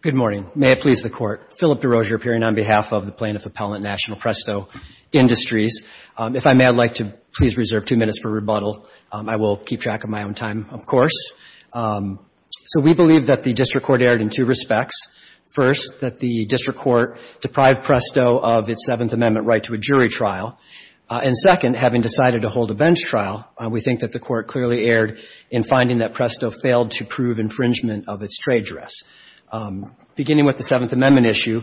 Good morning. May it please the Court. Philip DeRosier appearing on behalf of the Plaintiff Appellant National Presto Industries. If I may, I'd like to please reserve two minutes for rebuttal. I will keep track of my own time, of course. So we believe that the District Court erred in two respects. First, that the District Court deprived Presto of its Seventh Amendment right to a jury trial. And second, having decided to hold a bench trial, we think that the Court clearly erred in finding that Presto failed to prove infringement of its trade dress. Beginning with the Seventh Amendment issue,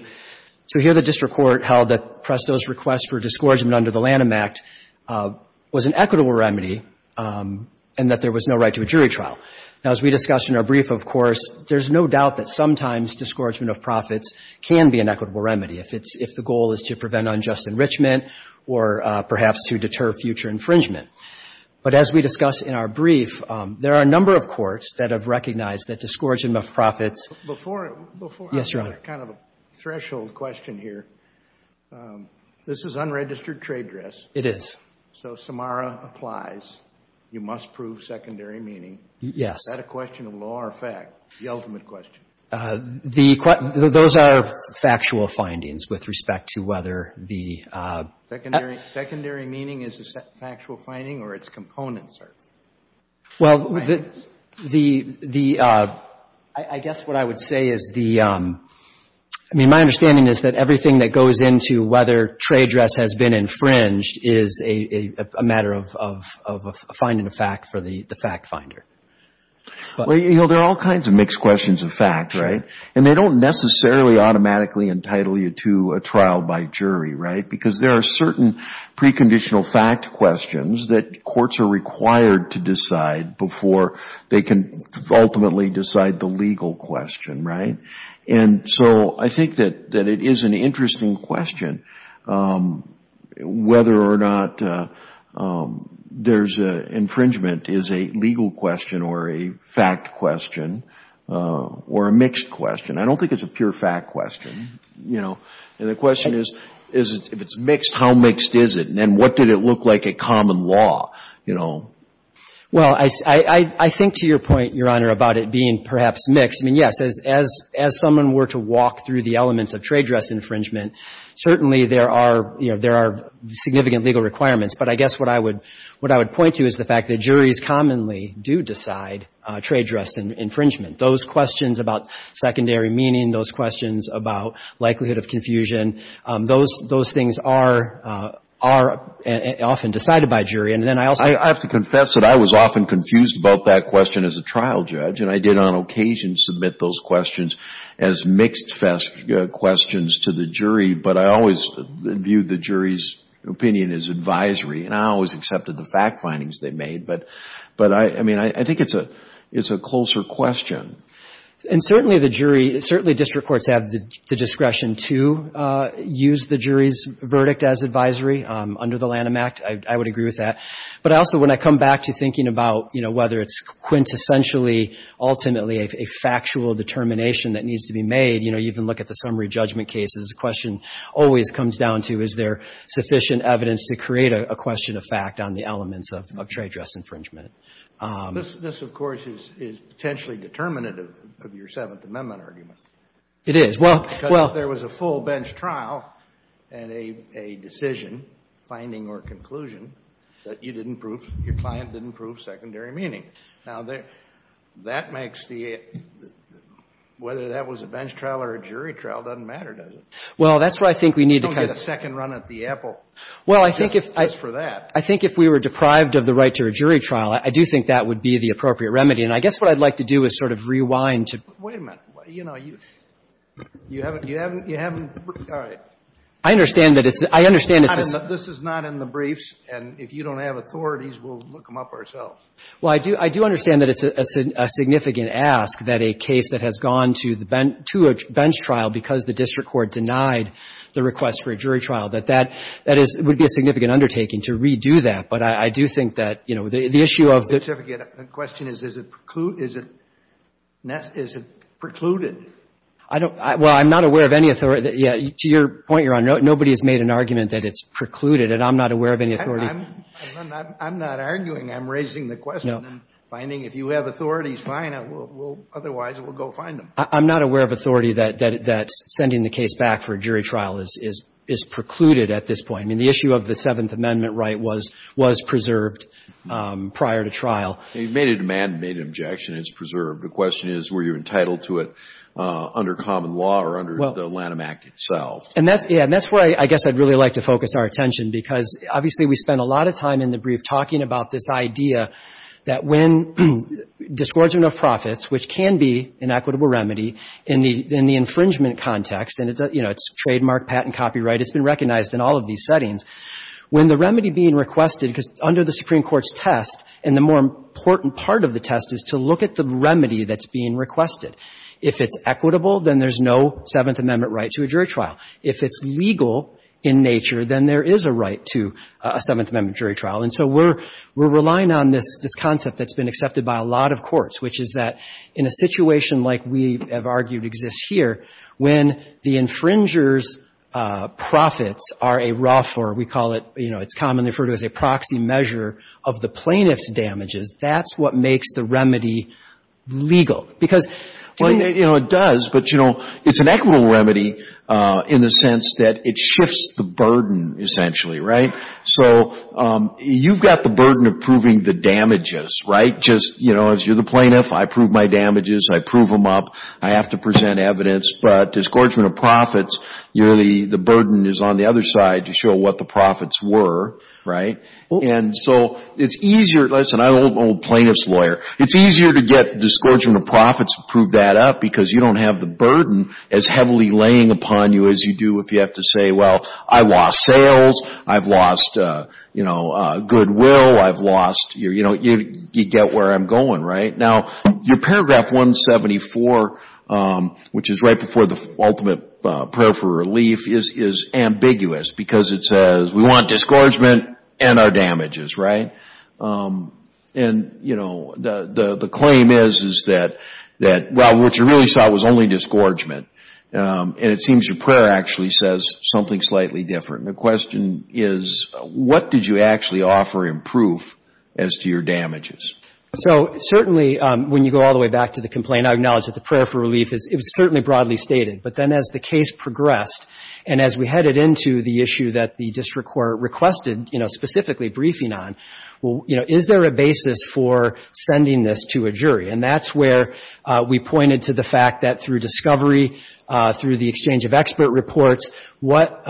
so here the District Court held that Presto's request for discouragement under the Lanham Act was an equitable remedy and that there was no right to a jury trial. Now, as we discussed in our brief, of course, there's no doubt that sometimes discouragement of profits can be an equitable remedy if it's — if the or perhaps to deter future infringement. But as we discussed in our brief, there are a number of courts that have recognized that discouragement of profits — Before — Yes, Your Honor. I have kind of a threshold question here. This is unregistered trade dress. It is. So Samara applies. You must prove secondary meaning. Yes. Is that a question of law or fact, the ultimate question? The — those are factual findings with respect to whether the — Secondary — secondary meaning is a factual finding or its components are? Well, the — I guess what I would say is the — I mean, my understanding is that everything that goes into whether trade dress has been infringed is a matter of finding a fact for the fact finder. Well, you know, there are all kinds of mixed questions of facts, right? And they don't necessarily automatically entitle you to a trial by jury, right? Because there are certain preconditional fact questions that courts are required to decide before they can ultimately decide the legal question, right? And so I think that it is an interesting question whether or not there's a — infringement is a legal question or a fact question or a mixed question. I don't think it's a pure fact question, you know? And the question is, if it's mixed, how mixed is it? And then what did it look like at common law, you know? Well, I think to your point, Your Honor, about it being perhaps mixed, I mean, yes, as someone were to walk through the elements of trade dress infringement, certainly there are — you know, there are significant legal requirements. But I guess what I would — what I would point to is the fact that juries commonly do decide trade dress infringement. Those questions about secondary meaning, those questions about likelihood of confusion, those things are often decided by jury. And then I also — I have to confess that I was often confused about that question as a trial judge, and But I always viewed the jury's opinion as advisory, and I always accepted the fact findings they made. But I mean, I think it's a — it's a closer question. And certainly the jury — certainly district courts have the discretion to use the jury's verdict as advisory under the Lanham Act. I would agree with that. But I also, when I come back to thinking about, you know, whether it's quintessentially, ultimately a factual determination that needs to be made, you know, you even look at the comes down to, is there sufficient evidence to create a question of fact on the elements of trade dress infringement. This, of course, is potentially determinative of your Seventh Amendment argument. It is. Well — Because if there was a full bench trial and a decision, finding or conclusion, that you didn't prove — your client didn't prove secondary meaning. Now, that makes the — whether that was a bench trial or a jury trial doesn't matter, does it? Well, that's where I think we need to kind of — You don't get a second run at the apple just for that. I think if we were deprived of the right to a jury trial, I do think that would be the appropriate remedy. And I guess what I'd like to do is sort of rewind to — Wait a minute. You know, you — you haven't — you haven't — you haven't — all right. I understand that it's — I understand it's — This is not in the briefs, and if you don't have authorities, we'll look them up ourselves. Well, I do — I do understand that it's a significant ask that a case that has gone to the bench — to a bench trial because the district court denied the request for a jury trial, that that — that is — would be a significant undertaking to redo that. But I do think that, you know, the issue of the — The question is, is it preclude — is it — is it precluded? I don't — well, I'm not aware of any authority — yeah, to your point, Your Honor, nobody has made an argument that it's precluded, and I'm not aware of any authority — I'm not — I'm not arguing. I'm raising the question. No. I'm finding if you have authorities, fine, we'll — otherwise, we'll go find them. I'm not aware of authority that — that — that sending the case back for a jury trial is — is precluded at this point. I mean, the issue of the Seventh Amendment right was — was preserved prior to trial. You made a demand, made an objection, and it's preserved. The question is, were you entitled to it under common law or under the Lanham Act itself? And that's — yeah, and that's where I guess I'd really like to focus our attention, because obviously, we spent a lot of time in the brief talking about this idea that when disgorgement of profits, which can be an equitable remedy in the — in the infringement context, and it's a — you know, it's trademark, patent, copyright, it's been recognized in all of these settings. When the remedy being requested — because under the Supreme Court's test, and the more important part of the test is to look at the remedy that's being requested. If it's equitable, then there's no Seventh Amendment right to a jury trial. If it's legal in nature, then there is a right to a Seventh Amendment jury trial. And so we're — we're relying on this — this concept that's been accepted by a lot of courts, which is that in a situation like we have argued exists here, when the infringer's profits are a rough, or we call it — you know, it's commonly referred to as a proxy measure of the plaintiff's damages, that's what makes the remedy legal. Because — Well, you know, it does. But, you know, it's an equitable remedy in the sense that it shifts the burden, essentially, right? So you've got the burden of proving the damages, right? Just, you know, as you're the plaintiff, I prove my damages, I prove them up, I have to present evidence. But disgorgement of profits, you're the — the burden is on the other side to show what the profits were, right? And so it's easier — listen, I'm an old plaintiff's lawyer. It's easier to get disgorgement of profits, prove that up, because you don't have the burden as heavily laying upon you as you do if you have to say, well, I lost sales, I've lost, you know, goodwill, I've lost — you know, you get where I'm going, right? Now, your paragraph 174, which is right before the ultimate prayer for relief, is ambiguous because it says, we want disgorgement and our damages, right? And you know, the claim is, is that, well, what you really sought was only disgorgement. And it seems your prayer actually says something slightly different. The question is, what did you actually offer in proof as to your damages? So certainly, when you go all the way back to the complaint, I acknowledge that the prayer for relief is — it was certainly broadly stated. But then as the case progressed, and as we headed into the issue that the district court requested, you know, specifically briefing on, well, you know, is there a basis for sending this to a jury? And that's where we pointed to the fact that through discovery, through the exchange of expert reports, what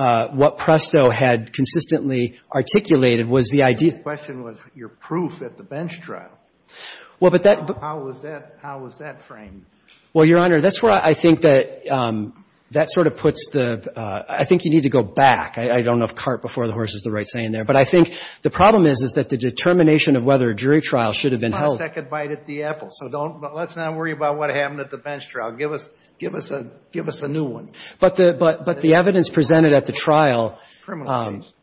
Presto had consistently articulated was the idea — The question was, your proof at the bench trial. Well, but that — How was that — how was that framed? Well, Your Honor, that's where I think that that sort of puts the — I think you need to go back. I don't know if cart before the horse is the right saying there. But I think the problem is, is that the determination of whether a jury trial should have been held — Give us a second bite at the apple. So don't — let's not worry about what happened at the bench trial. Give us — give us a — give us a new one. But the evidence presented at the trial — Criminal case.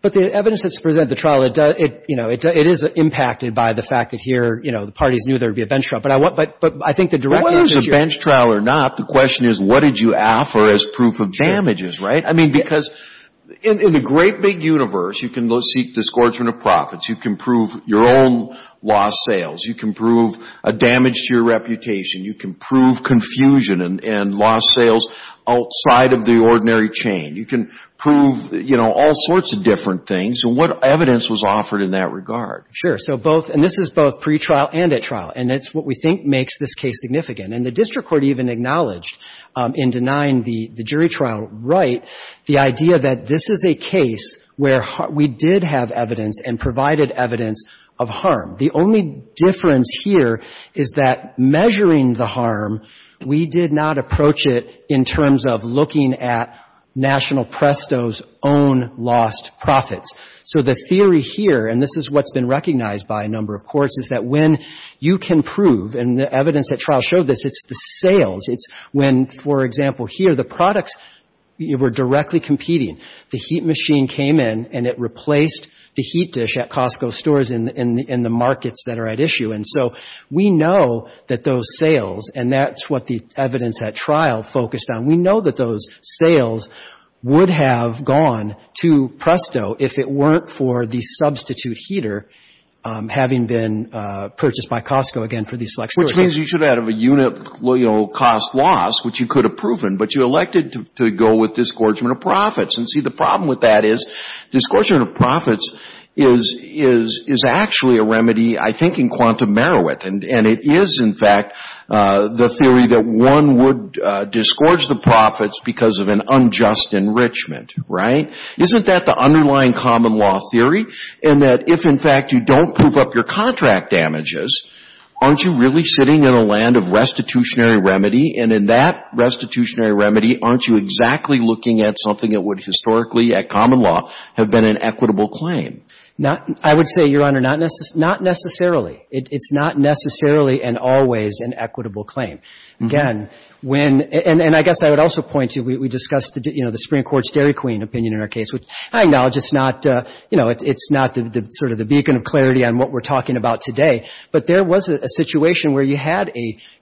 But the evidence that's presented at the trial, it does — you know, it is impacted by the fact that here, you know, the parties knew there would be a bench trial. But I want — but I think the direct answer to your — Well, whether it's a bench trial or not, the question is, what did you offer as proof of damages, right? I mean, because in the great big universe, you can seek discordsman of profits. You can prove your own lost sales. You can prove a damage to your reputation. You can prove confusion and lost sales outside of the ordinary chain. You can prove, you know, all sorts of different things. And what evidence was offered in that regard? Sure. So both — and this is both pretrial and at trial. And it's what we think makes this case significant. And the district court even acknowledged in denying the jury trial right the idea that this is a case where we did have evidence and provided evidence of harm. The only difference here is that measuring the harm, we did not approach it in terms of looking at National Presto's own lost profits. So the theory here — and this is what's been recognized by a number of courts — is that when you can prove — and the evidence at trial showed this — it's the sales. It's when, for example, here, the products were directly competing. The heat machine came in and it replaced the heat dish at Costco stores in the markets that are at issue. And so we know that those sales — and that's what the evidence at trial focused on — we know that those sales would have gone to Presto if it weren't for the substitute heater having been purchased by Costco, again, for these select stores. Which means you should have had a unit, you know, cost loss, which you could have proven. But you elected to go with disgorgement of profits. And see, the problem with that is disgorgement of profits is actually a remedy, I think, in quantum merit. And it is, in fact, the theory that one would disgorge the profits because of an unjust enrichment, right? Isn't that the underlying common law theory? And that if, in fact, you don't prove up your contract damages, aren't you really sitting in a land of restitutionary remedy? And in that restitutionary remedy, aren't you exactly looking at something that would historically, at common law, have been an equitable claim? Not — I would say, Your Honor, not necessarily. It's not necessarily and always an equitable claim. Again, when — and I guess I would also point to — we discussed, you know, the Supreme Court's Dairy Queen opinion in our case, which I acknowledge is not — you know, it's not sort of the beacon of clarity on what we're talking about today. But there was a situation where you had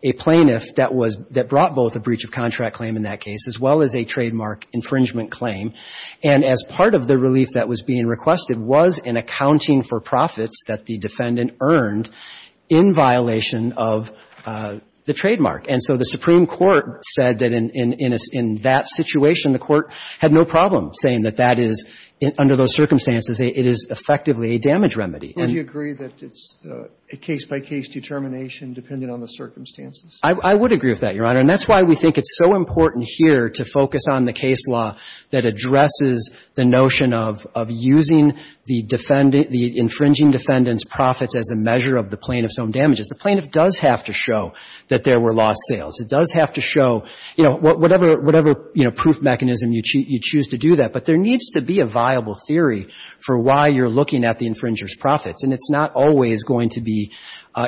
a plaintiff that was — that brought both a breach of contract claim in that case as well as a trademark infringement claim. And as part of the relief that was being requested was an accounting for profits that the defendant earned in violation of the trademark. And so the Supreme Court said that in that situation, the court had no problem saying that that is, under those circumstances, it is effectively a damage remedy. Well, do you agree that it's a case-by-case determination depending on the circumstances? I would agree with that, Your Honor. And that's why we think it's so important here to focus on the case law that addresses the notion of using the defendant — the infringing defendant's profits as a measure of the plaintiff's own damages. The plaintiff does have to show that there were lost sales. It does have to show — you know, whatever — whatever, you know, proof mechanism you choose to do that. But there needs to be a viable theory for why you're looking at the infringer's profits. And it's not always going to be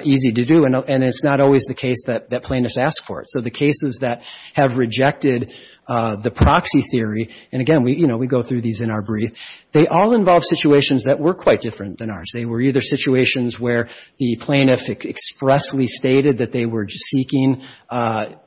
easy to do. And it's not always the case that plaintiffs ask for it. So the cases that have rejected the proxy theory — and again, you know, we go through these in our brief — they all involve situations that were quite different than ours. They were either situations where the plaintiff expressly stated that they were seeking,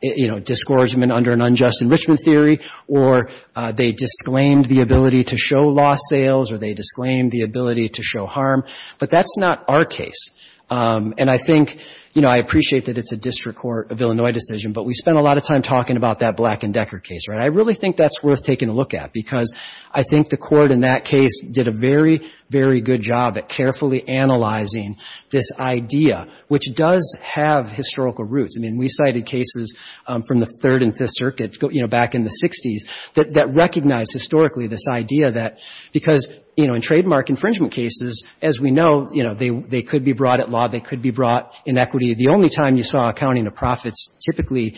you know, discordsmen under an unjust enrichment theory, or they disclaimed the ability to show lost sales, or they disclaimed the ability to show harm. But that's not our case. And I think — you know, I appreciate that it's a District Court of Illinois decision, but we spent a lot of time talking about that Black and Decker case, right? I really think that's worth taking a look at, because I think the Court in that case did a very, very good job at carefully analyzing this idea, which does have historical roots. I mean, we cited cases from the Third and Fifth Circuits, you know, back in the 60s that recognized historically this idea that — because, you know, in trademark infringement cases, as we know, you know, they could be brought at law, they could be brought in equity. The only time you saw accounting of profits typically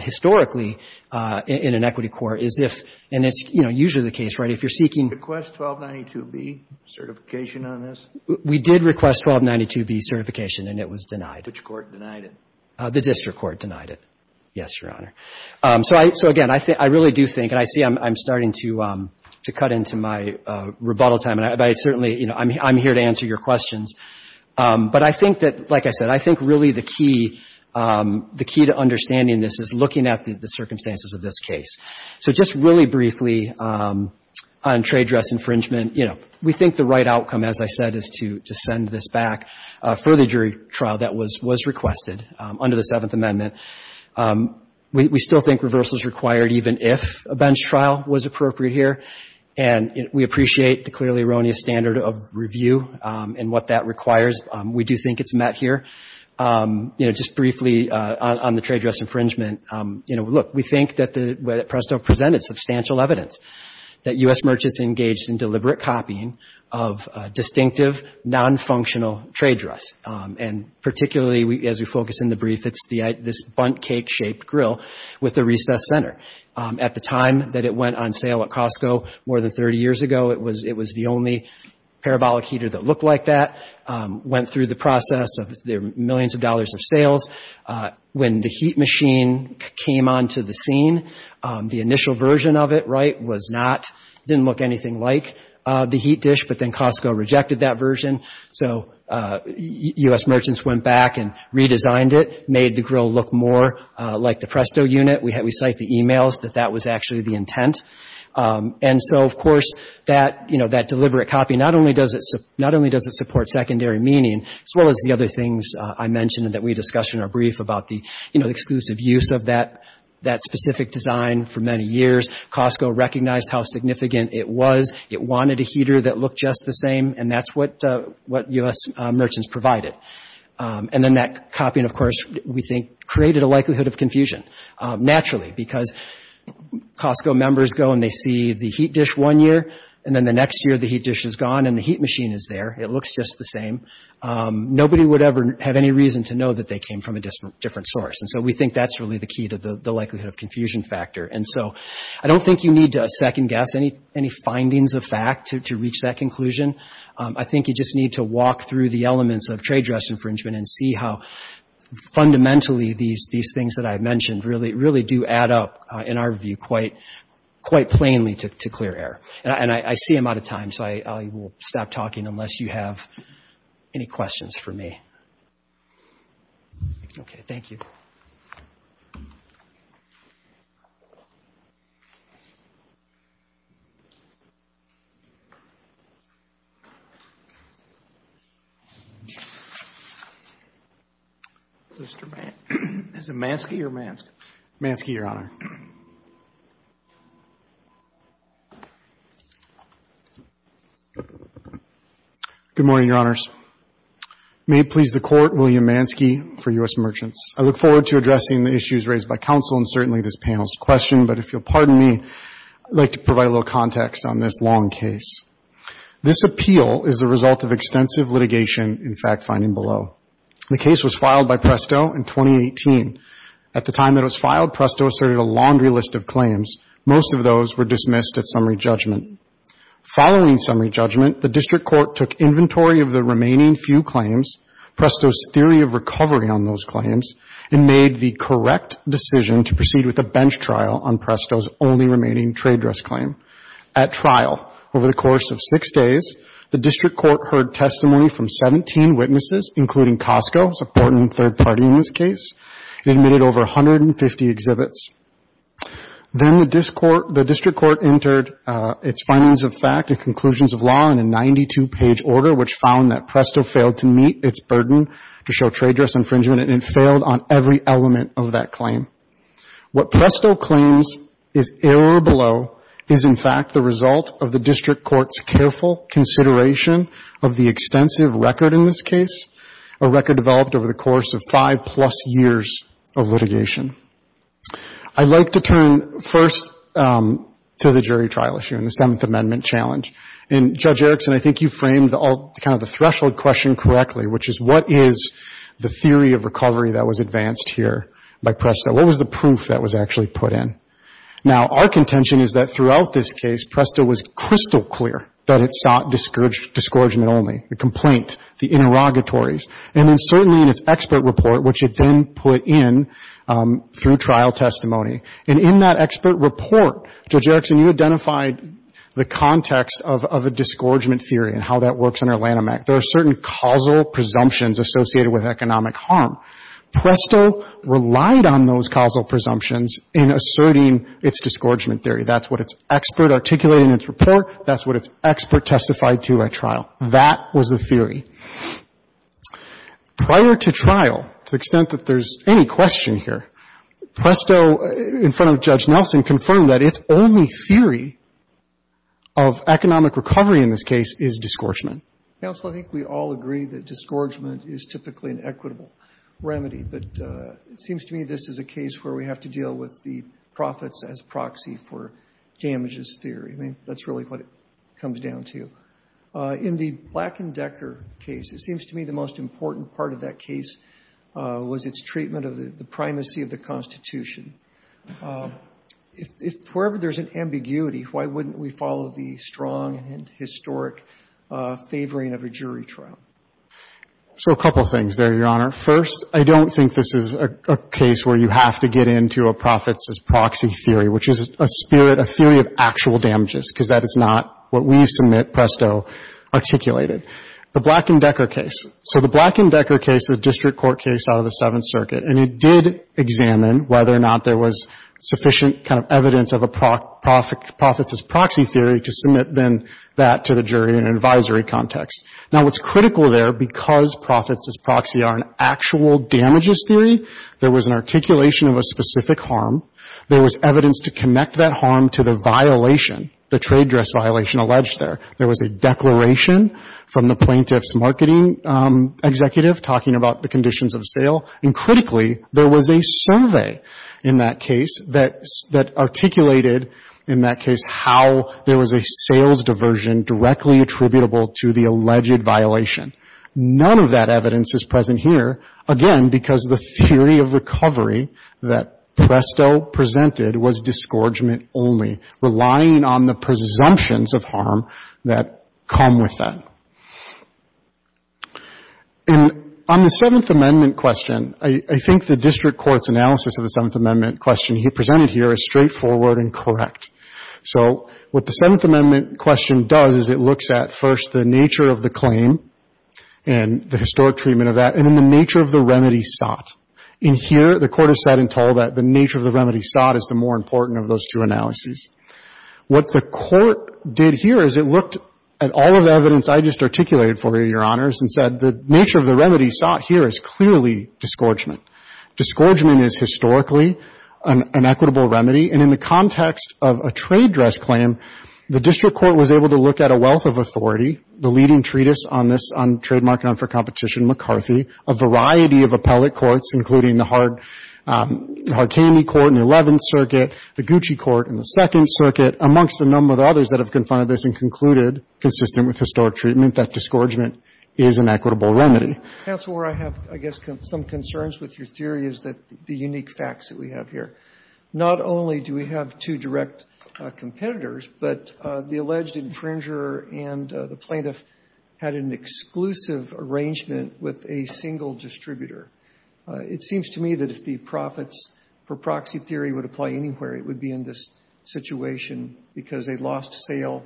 historically in an equity court is if — and it's, you know, usually the case, right? If you're seeking — Request 1292B certification on this? We did request 1292B certification, and it was denied. Which court denied it? The District Court denied it. Yes, Your Honor. So I — so, again, I really do think — and I see I'm starting to cut into my rebuttal time, and I certainly — you know, I'm here to answer your questions. But I think that, like I said, I think really the key — the key to understanding this is looking at the circumstances of this case. So just really briefly on trade dress infringement, you know, we think the right under the Seventh Amendment, we still think reversal is required even if a bench trial was appropriate here. And we appreciate the clearly erroneous standard of review and what that requires. We do think it's met here. You know, just briefly on the trade dress infringement, you know, look, we think that the — that Presto presented substantial evidence that U.S. merchants engaged in deliberate copying of distinctive, non-functional trade dress. And particularly, as we focus in the brief, it's this bundt cake-shaped grill with a recess center. At the time that it went on sale at Costco, more than 30 years ago, it was the only parabolic heater that looked like that. Went through the process of the millions of dollars of sales. When the heat machine came onto the scene, the initial version of it, right, was not — didn't look anything like the heat dish, but then Costco rejected that version. So U.S. merchants went back and redesigned it, made the grill look more like the Presto unit. We cite the e-mails that that was actually the intent. And so, of course, that — you know, that deliberate copy, not only does it — not only does it support secondary meaning, as well as the other things I mentioned that we discussed in our brief about the, you know, exclusive use of that specific design for many years, Costco recognized how significant it was. It wanted a heater that looked just the same, and that's what U.S. merchants provided. And then that copying, of course, we think, created a likelihood of confusion, naturally, because Costco members go and they see the heat dish one year, and then the next year the heat dish is gone and the heat machine is there. It looks just the same. Nobody would ever have any reason to know that they came from a different source, and so we think that's really the key to the likelihood of confusion factor. And so I don't think you need to second-guess any findings of fact to reach that conclusion. I think you just need to walk through the elements of trade dress infringement and see how fundamentally these things that I mentioned really do add up, in our view, quite plainly to clear error. And I see I'm out of time, so I will stop talking unless you have any questions for me. Okay. Thank you. Mr. Manske, is it Manske or Mansk? Manske, Your Honor. Good morning, Your Honors. May it please the Court, William Manske for U.S. merchants. I look forward to addressing the issues raised by counsel and certainly this panel's question, but if you'll pardon me, I'd like to provide a little context on this long case. This appeal is the result of extensive litigation in fact finding below. The case was filed by Presto in 2018. At the time that it was filed, Presto asserted a laundry list of claims. Most of those were dismissed at summary judgment. Following summary judgment, the district court took inventory of the remaining few claims, Presto's theory of recovery on those claims, and made the correct decision to proceed with a bench trial on Presto's only remaining trade dress claim. At trial, over the course of six days, the district court heard testimony from 17 witnesses, including Costco, who's an important third party in this case, and admitted over 150 exhibits. Then the district court entered its findings of fact and conclusions of law in a 92-page order, which found that Presto failed to meet its burden to show trade dress infringement, and it failed on every element of that claim. What Presto claims is error below is in fact the result of the district court's careful consideration of the extensive record in this case, a record developed over the course of five plus years of litigation. I'd like to turn first to the jury trial issue and the Seventh Amendment challenge. And Judge Erickson, I think you framed kind of the threshold question correctly, which is what is the theory of recovery that was advanced here by Presto? What was the proof that was actually put in? Now, our contention is that throughout this case, Presto was crystal clear that it sought discouragement only, the complaint, the interrogatories. And then certainly in its expert report, which it then put in through trial testimony, and in that expert report, Judge Erickson, you identified the context of a discouragement theory and how that works under Lanham Act. There are certain causal presumptions associated with economic harm. Presto relied on those causal presumptions in asserting its discouragement theory. That's what its expert articulated in its report. That's what its expert testified to at trial. That was the theory. Prior to trial, to the extent that there's any question here, Presto, in front of Judge Nelson, confirmed that its only theory of economic recovery in this case is discouragement. Counsel, I think we all agree that discouragement is typically an equitable remedy. But it seems to me this is a case where we have to deal with the profits as proxy for damages theory. I mean, that's really what it comes down to. In the Black and Decker case, it seems to me the most important part of that case was its treatment of the primacy of the Constitution. If wherever there's an ambiguity, why wouldn't we follow the strong and historic favoring of a jury trial? So a couple things there, Your Honor. First, I don't think this is a case where you have to get into a profits as proxy theory, which is a spirit, a theory of actual damages, because that is not what we submit, Presto, articulated. The Black and Decker case. So the Black and Decker case is a district court case out of the Seventh Circuit. And it did examine whether or not there was sufficient kind of evidence of a profits as proxy theory to submit then that to the jury in an advisory context. Now, what's critical there, because profits as proxy are an actual damages theory, there was an articulation of a specific harm. There was evidence to connect that harm to the violation, the trade dress violation alleged there. There was a declaration from the plaintiff's marketing executive talking about the conditions of sale. And critically, there was a survey in that case that articulated in that case how there was a sales diversion directly attributable to the alleged violation. None of that evidence is present here, again, because the theory of recovery that comes with that. And on the Seventh Amendment question, I think the district court's analysis of the Seventh Amendment question he presented here is straightforward and correct. So what the Seventh Amendment question does is it looks at first the nature of the claim and the historic treatment of that, and then the nature of the remedy sought. In here, the court is said and told that the nature of the remedy sought is the more important of those two analyses. What the court did here is it looked at all of the evidence I just articulated for you, Your Honors, and said the nature of the remedy sought here is clearly disgorgement. Disgorgement is historically an equitable remedy. And in the context of a trade dress claim, the district court was able to look at a wealth of authority, the leading treatise on this, on trademark non-fair competition, McCarthy, a variety of appellate courts, including the Hard Candy Court in the 11th Circuit, amongst a number of others that have confided this and concluded, consistent with historic treatment, that disgorgement is an equitable remedy. Roberts, I guess some concerns with your theory is that the unique facts that we have here. Not only do we have two direct competitors, but the alleged infringer and the plaintiff had an exclusive arrangement with a single distributor. It seems to me that if the profits for proxy theory would apply anywhere, it would be in this situation, because a lost sale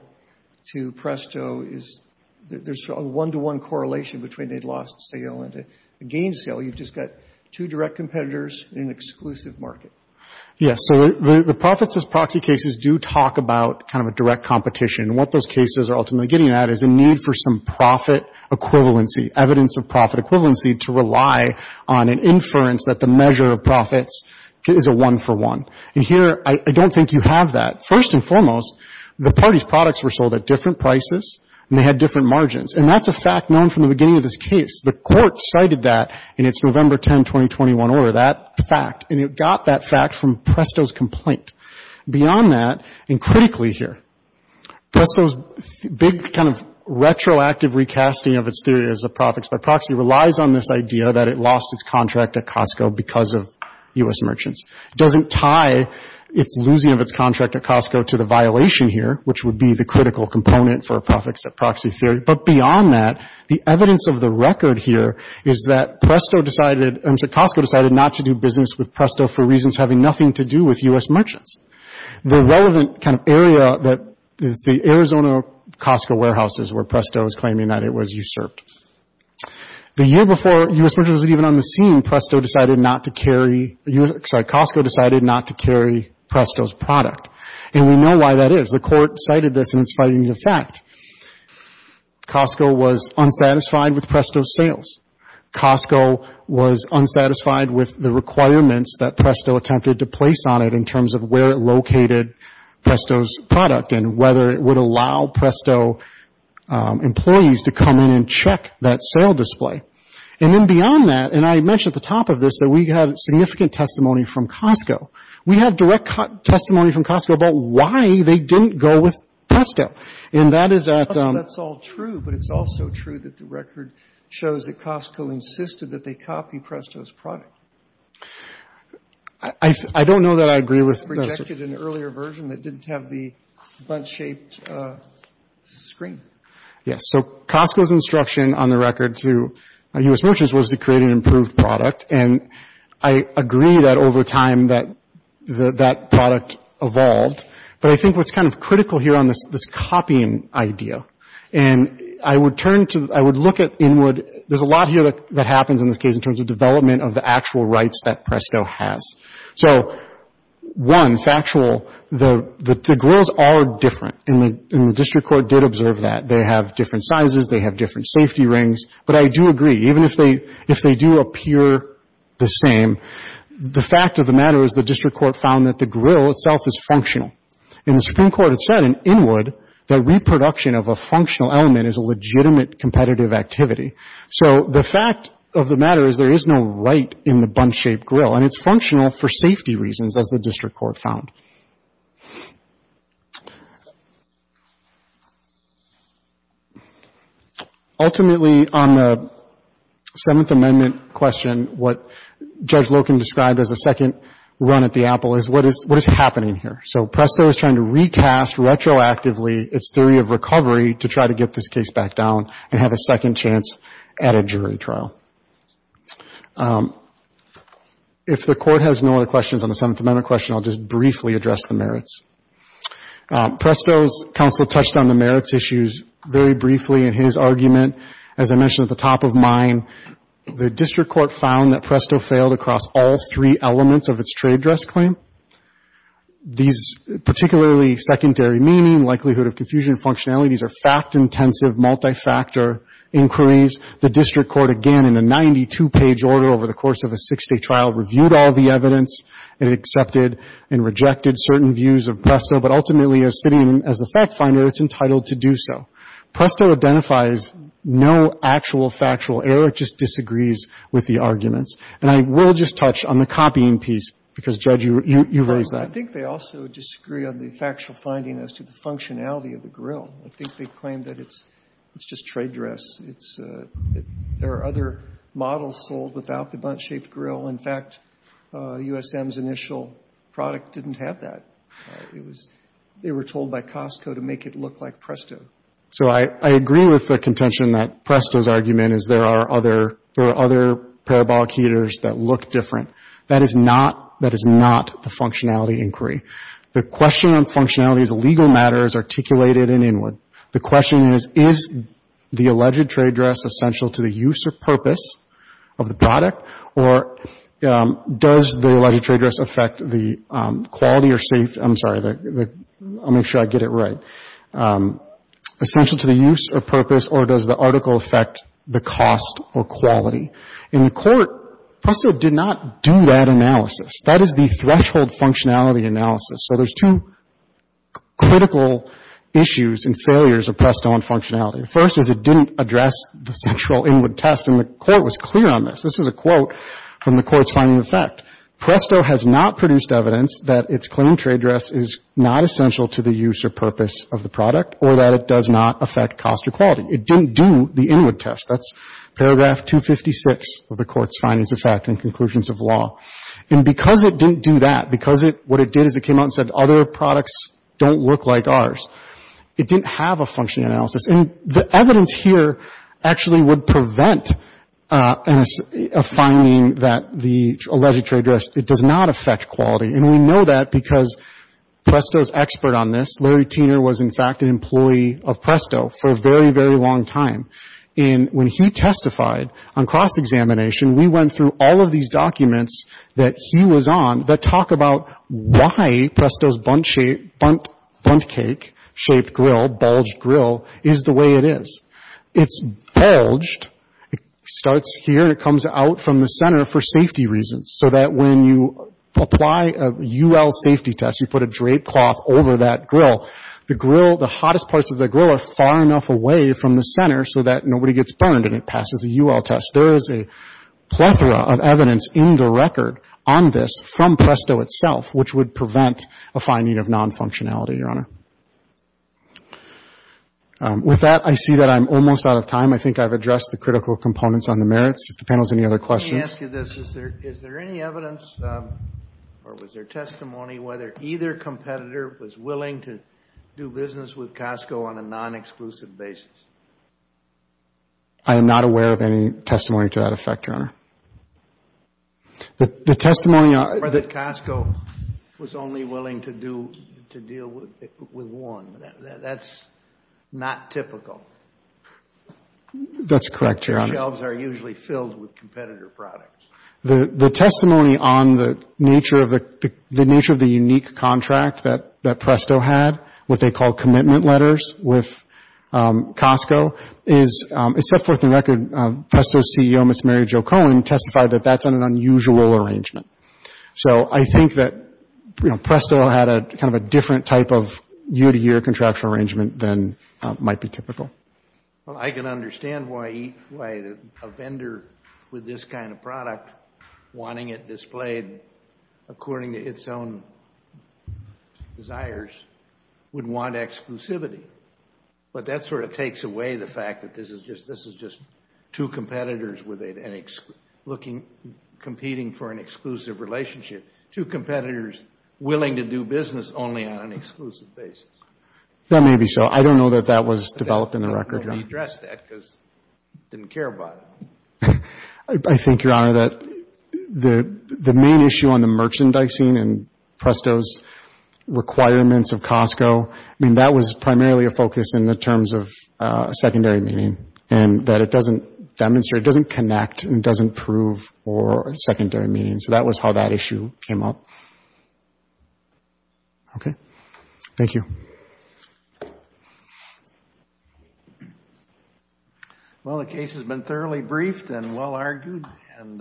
to Presto is, there's a one-to-one correlation between a lost sale and a gained sale. You've just got two direct competitors in an exclusive market. Yes. So the profits as proxy cases do talk about kind of a direct competition. What those cases are ultimately getting at is a need for some profit equivalency, evidence of profit equivalency, to rely on an inference that the measure of profits is a one-for-one. And here, I don't think you have that. First and foremost, the parties' products were sold at different prices and they had different margins. And that's a fact known from the beginning of this case. The Court cited that in its November 10, 2021, order, that fact. And it got that fact from Presto's complaint. Beyond that, and critically here, Presto's big kind of retroactive recasting of its theory as a profits by proxy relies on this idea that it lost its contract at Costco because of U.S. merchants. It doesn't tie its losing of its contract at Costco to the violation here, which would be the critical component for a profits at proxy theory. But beyond that, the evidence of the record here is that Costco decided not to do business with Presto for reasons having nothing to do with U.S. merchants. The relevant kind of area is the Arizona Costco warehouses where Presto is claiming that it was usurped. The year before U.S. merchants were even on the scene, Presto decided not to carry, sorry, Costco decided not to carry Presto's product. And we know why that is. The Court cited this in its fighting the fact. Costco was unsatisfied with Presto's sales. Costco was unsatisfied with the requirements that Presto attempted to place on it in terms of where it located Presto's product and whether it would allow Presto employees to come in and check that sale display. And then beyond that, and I mentioned at the top of this that we have significant testimony from Costco. We have direct testimony from Costco about why they didn't go with Presto. And that is at — So that's all true, but it's also true that the record shows that Costco insisted that they copy Presto's product. I don't know that I agree with — You projected an earlier version that didn't have the bunch-shaped screen. Yes. So Costco's instruction on the record to U.S. merchants was to create an improved product, and I agree that over time that that product evolved. But I think what's kind of critical here on this copying idea, and I would turn to — I would look at inward — there's a lot here that happens in this case in terms of development of the actual rights that Presto has. So, one, factual, the grills are different, and the District Court did observe that. They have different sizes. They have different safety rings. But I do agree, even if they do appear the same, the fact of the matter is the District Court found that the grill itself is functional. And the Supreme Court has said in Inwood that reproduction of a functional element is a legitimate competitive activity. So the fact of the matter is there is no right in the bunch-shaped grill, and it's functional for safety reasons, as the District Court found. Ultimately, on the Seventh Amendment question, what Judge Loken described as a second run at the apple is what is happening here? So Presto is trying to recast retroactively its theory of recovery to try to get this case back down and have a second chance at a jury trial. If the Court has no other questions on the Seventh Amendment question, I'll just briefly address the merits. Presto's counsel touched on the merits issues very briefly in his argument. As I mentioned at the top of mine, the District Court found that Presto failed across all three elements of its trade dress claim. These particularly secondary meaning, likelihood of confusion, functionality, these are fact-intensive multi-factor inquiries. The District Court, again, in a 92-page order over the course of a six-day trial, reviewed all the evidence and accepted and rejected certain views of Presto, but ultimately as sitting as the fact-finder, it's entitled to do so. Presto identifies no actual factual error. It just disagrees with the arguments. And I will just touch on the copying piece, because, Judge, you raised that. I think they also disagree on the factual finding as to the functionality of the grill. I think they claim that it's just trade dress. There are other models sold without the bunt-shaped grill. In fact, USM's initial product didn't have that. It was they were told by Costco to make it look like Presto. So I agree with the contention that Presto's argument is there are other parabolic heaters that look different. That is not the functionality inquiry. The question on functionality is a legal matter is articulated and inward. The question is, is the alleged trade dress essential to the use or purpose of the product? Or does the alleged trade dress affect the quality or safety? I'm sorry, I'll make sure I get it right. Essential to the use or purpose, or does the article affect the cost or quality? In court, Presto did not do that analysis. That is the threshold functionality analysis. So there's two critical issues and failures of Presto on functionality. The first is it didn't address the central inward test, and the Court was clear on this. This is a quote from the Court's finding of fact. Presto has not produced evidence that its claimed trade dress is not essential to the use or purpose of the product or that it does not affect cost or quality. It didn't do the inward test. That's paragraph 256 of the Court's findings of fact and conclusions of law. And because it didn't do that, because what it did is it came out and said, other products don't look like ours. It didn't have a function analysis. And the evidence here actually would prevent a finding that the alleged trade dress, it does not affect quality. And we know that because Presto's expert on this, Larry Teener was in fact an employee of Presto for a very, very long time. And when he testified on cross-examination, we went through all of these documents that he was on that talk about why Presto's Bundt cake shaped grill, bulged grill, is the way it is. It's bulged. It starts here and it comes out from the center for safety reasons so that when you apply a UL safety test, you put a drape cloth over that grill, the grill, the hottest parts of the grill are far enough away from the center so that nobody gets burned and it passes the UL test. There is a plethora of evidence in the record on this from Presto itself, which would prevent a finding of non-functionality, Your Honor. With that, I see that I'm almost out of time. I think I've addressed the critical components on the merits. If the panel has any other questions. Let me ask you this. Is there any evidence or was there testimony whether either competitor was willing to do business with Costco on a non-exclusive basis? I am not aware of any testimony to that effect, Your Honor. The testimony on... Or that Costco was only willing to deal with one. That's not typical. That's correct, Your Honor. The shelves are usually filled with competitor products. The testimony on the nature of the unique contract that Presto had, what they call commitment letters with Costco, is set forth in the record. Presto's CEO, Ms. Mary Jo Cohen, testified that that's an unusual arrangement. So I think that Presto had a different type of year-to-year contractual arrangement than might be typical. Well, I can understand why a vendor with this kind of product, wanting it displayed according to its own desires, would want exclusivity. But that sort of takes away the fact that this is just two competitors with a... Looking... Competing for an exclusive relationship. Two competitors willing to do business only on an exclusive basis. That may be so. I don't know that that was developed in the record, Your Honor. I think you need to redress that because I didn't care about it. I think, Your Honor, that the main issue on the merchandising and Presto's requirements of Costco, I mean, that was primarily a focus in the terms of a secondary meaning. And that it doesn't demonstrate, it doesn't connect, and it doesn't prove for a secondary meaning. So that was how that issue came up. Okay. Thank you. Well, the case has been thoroughly briefed and well argued.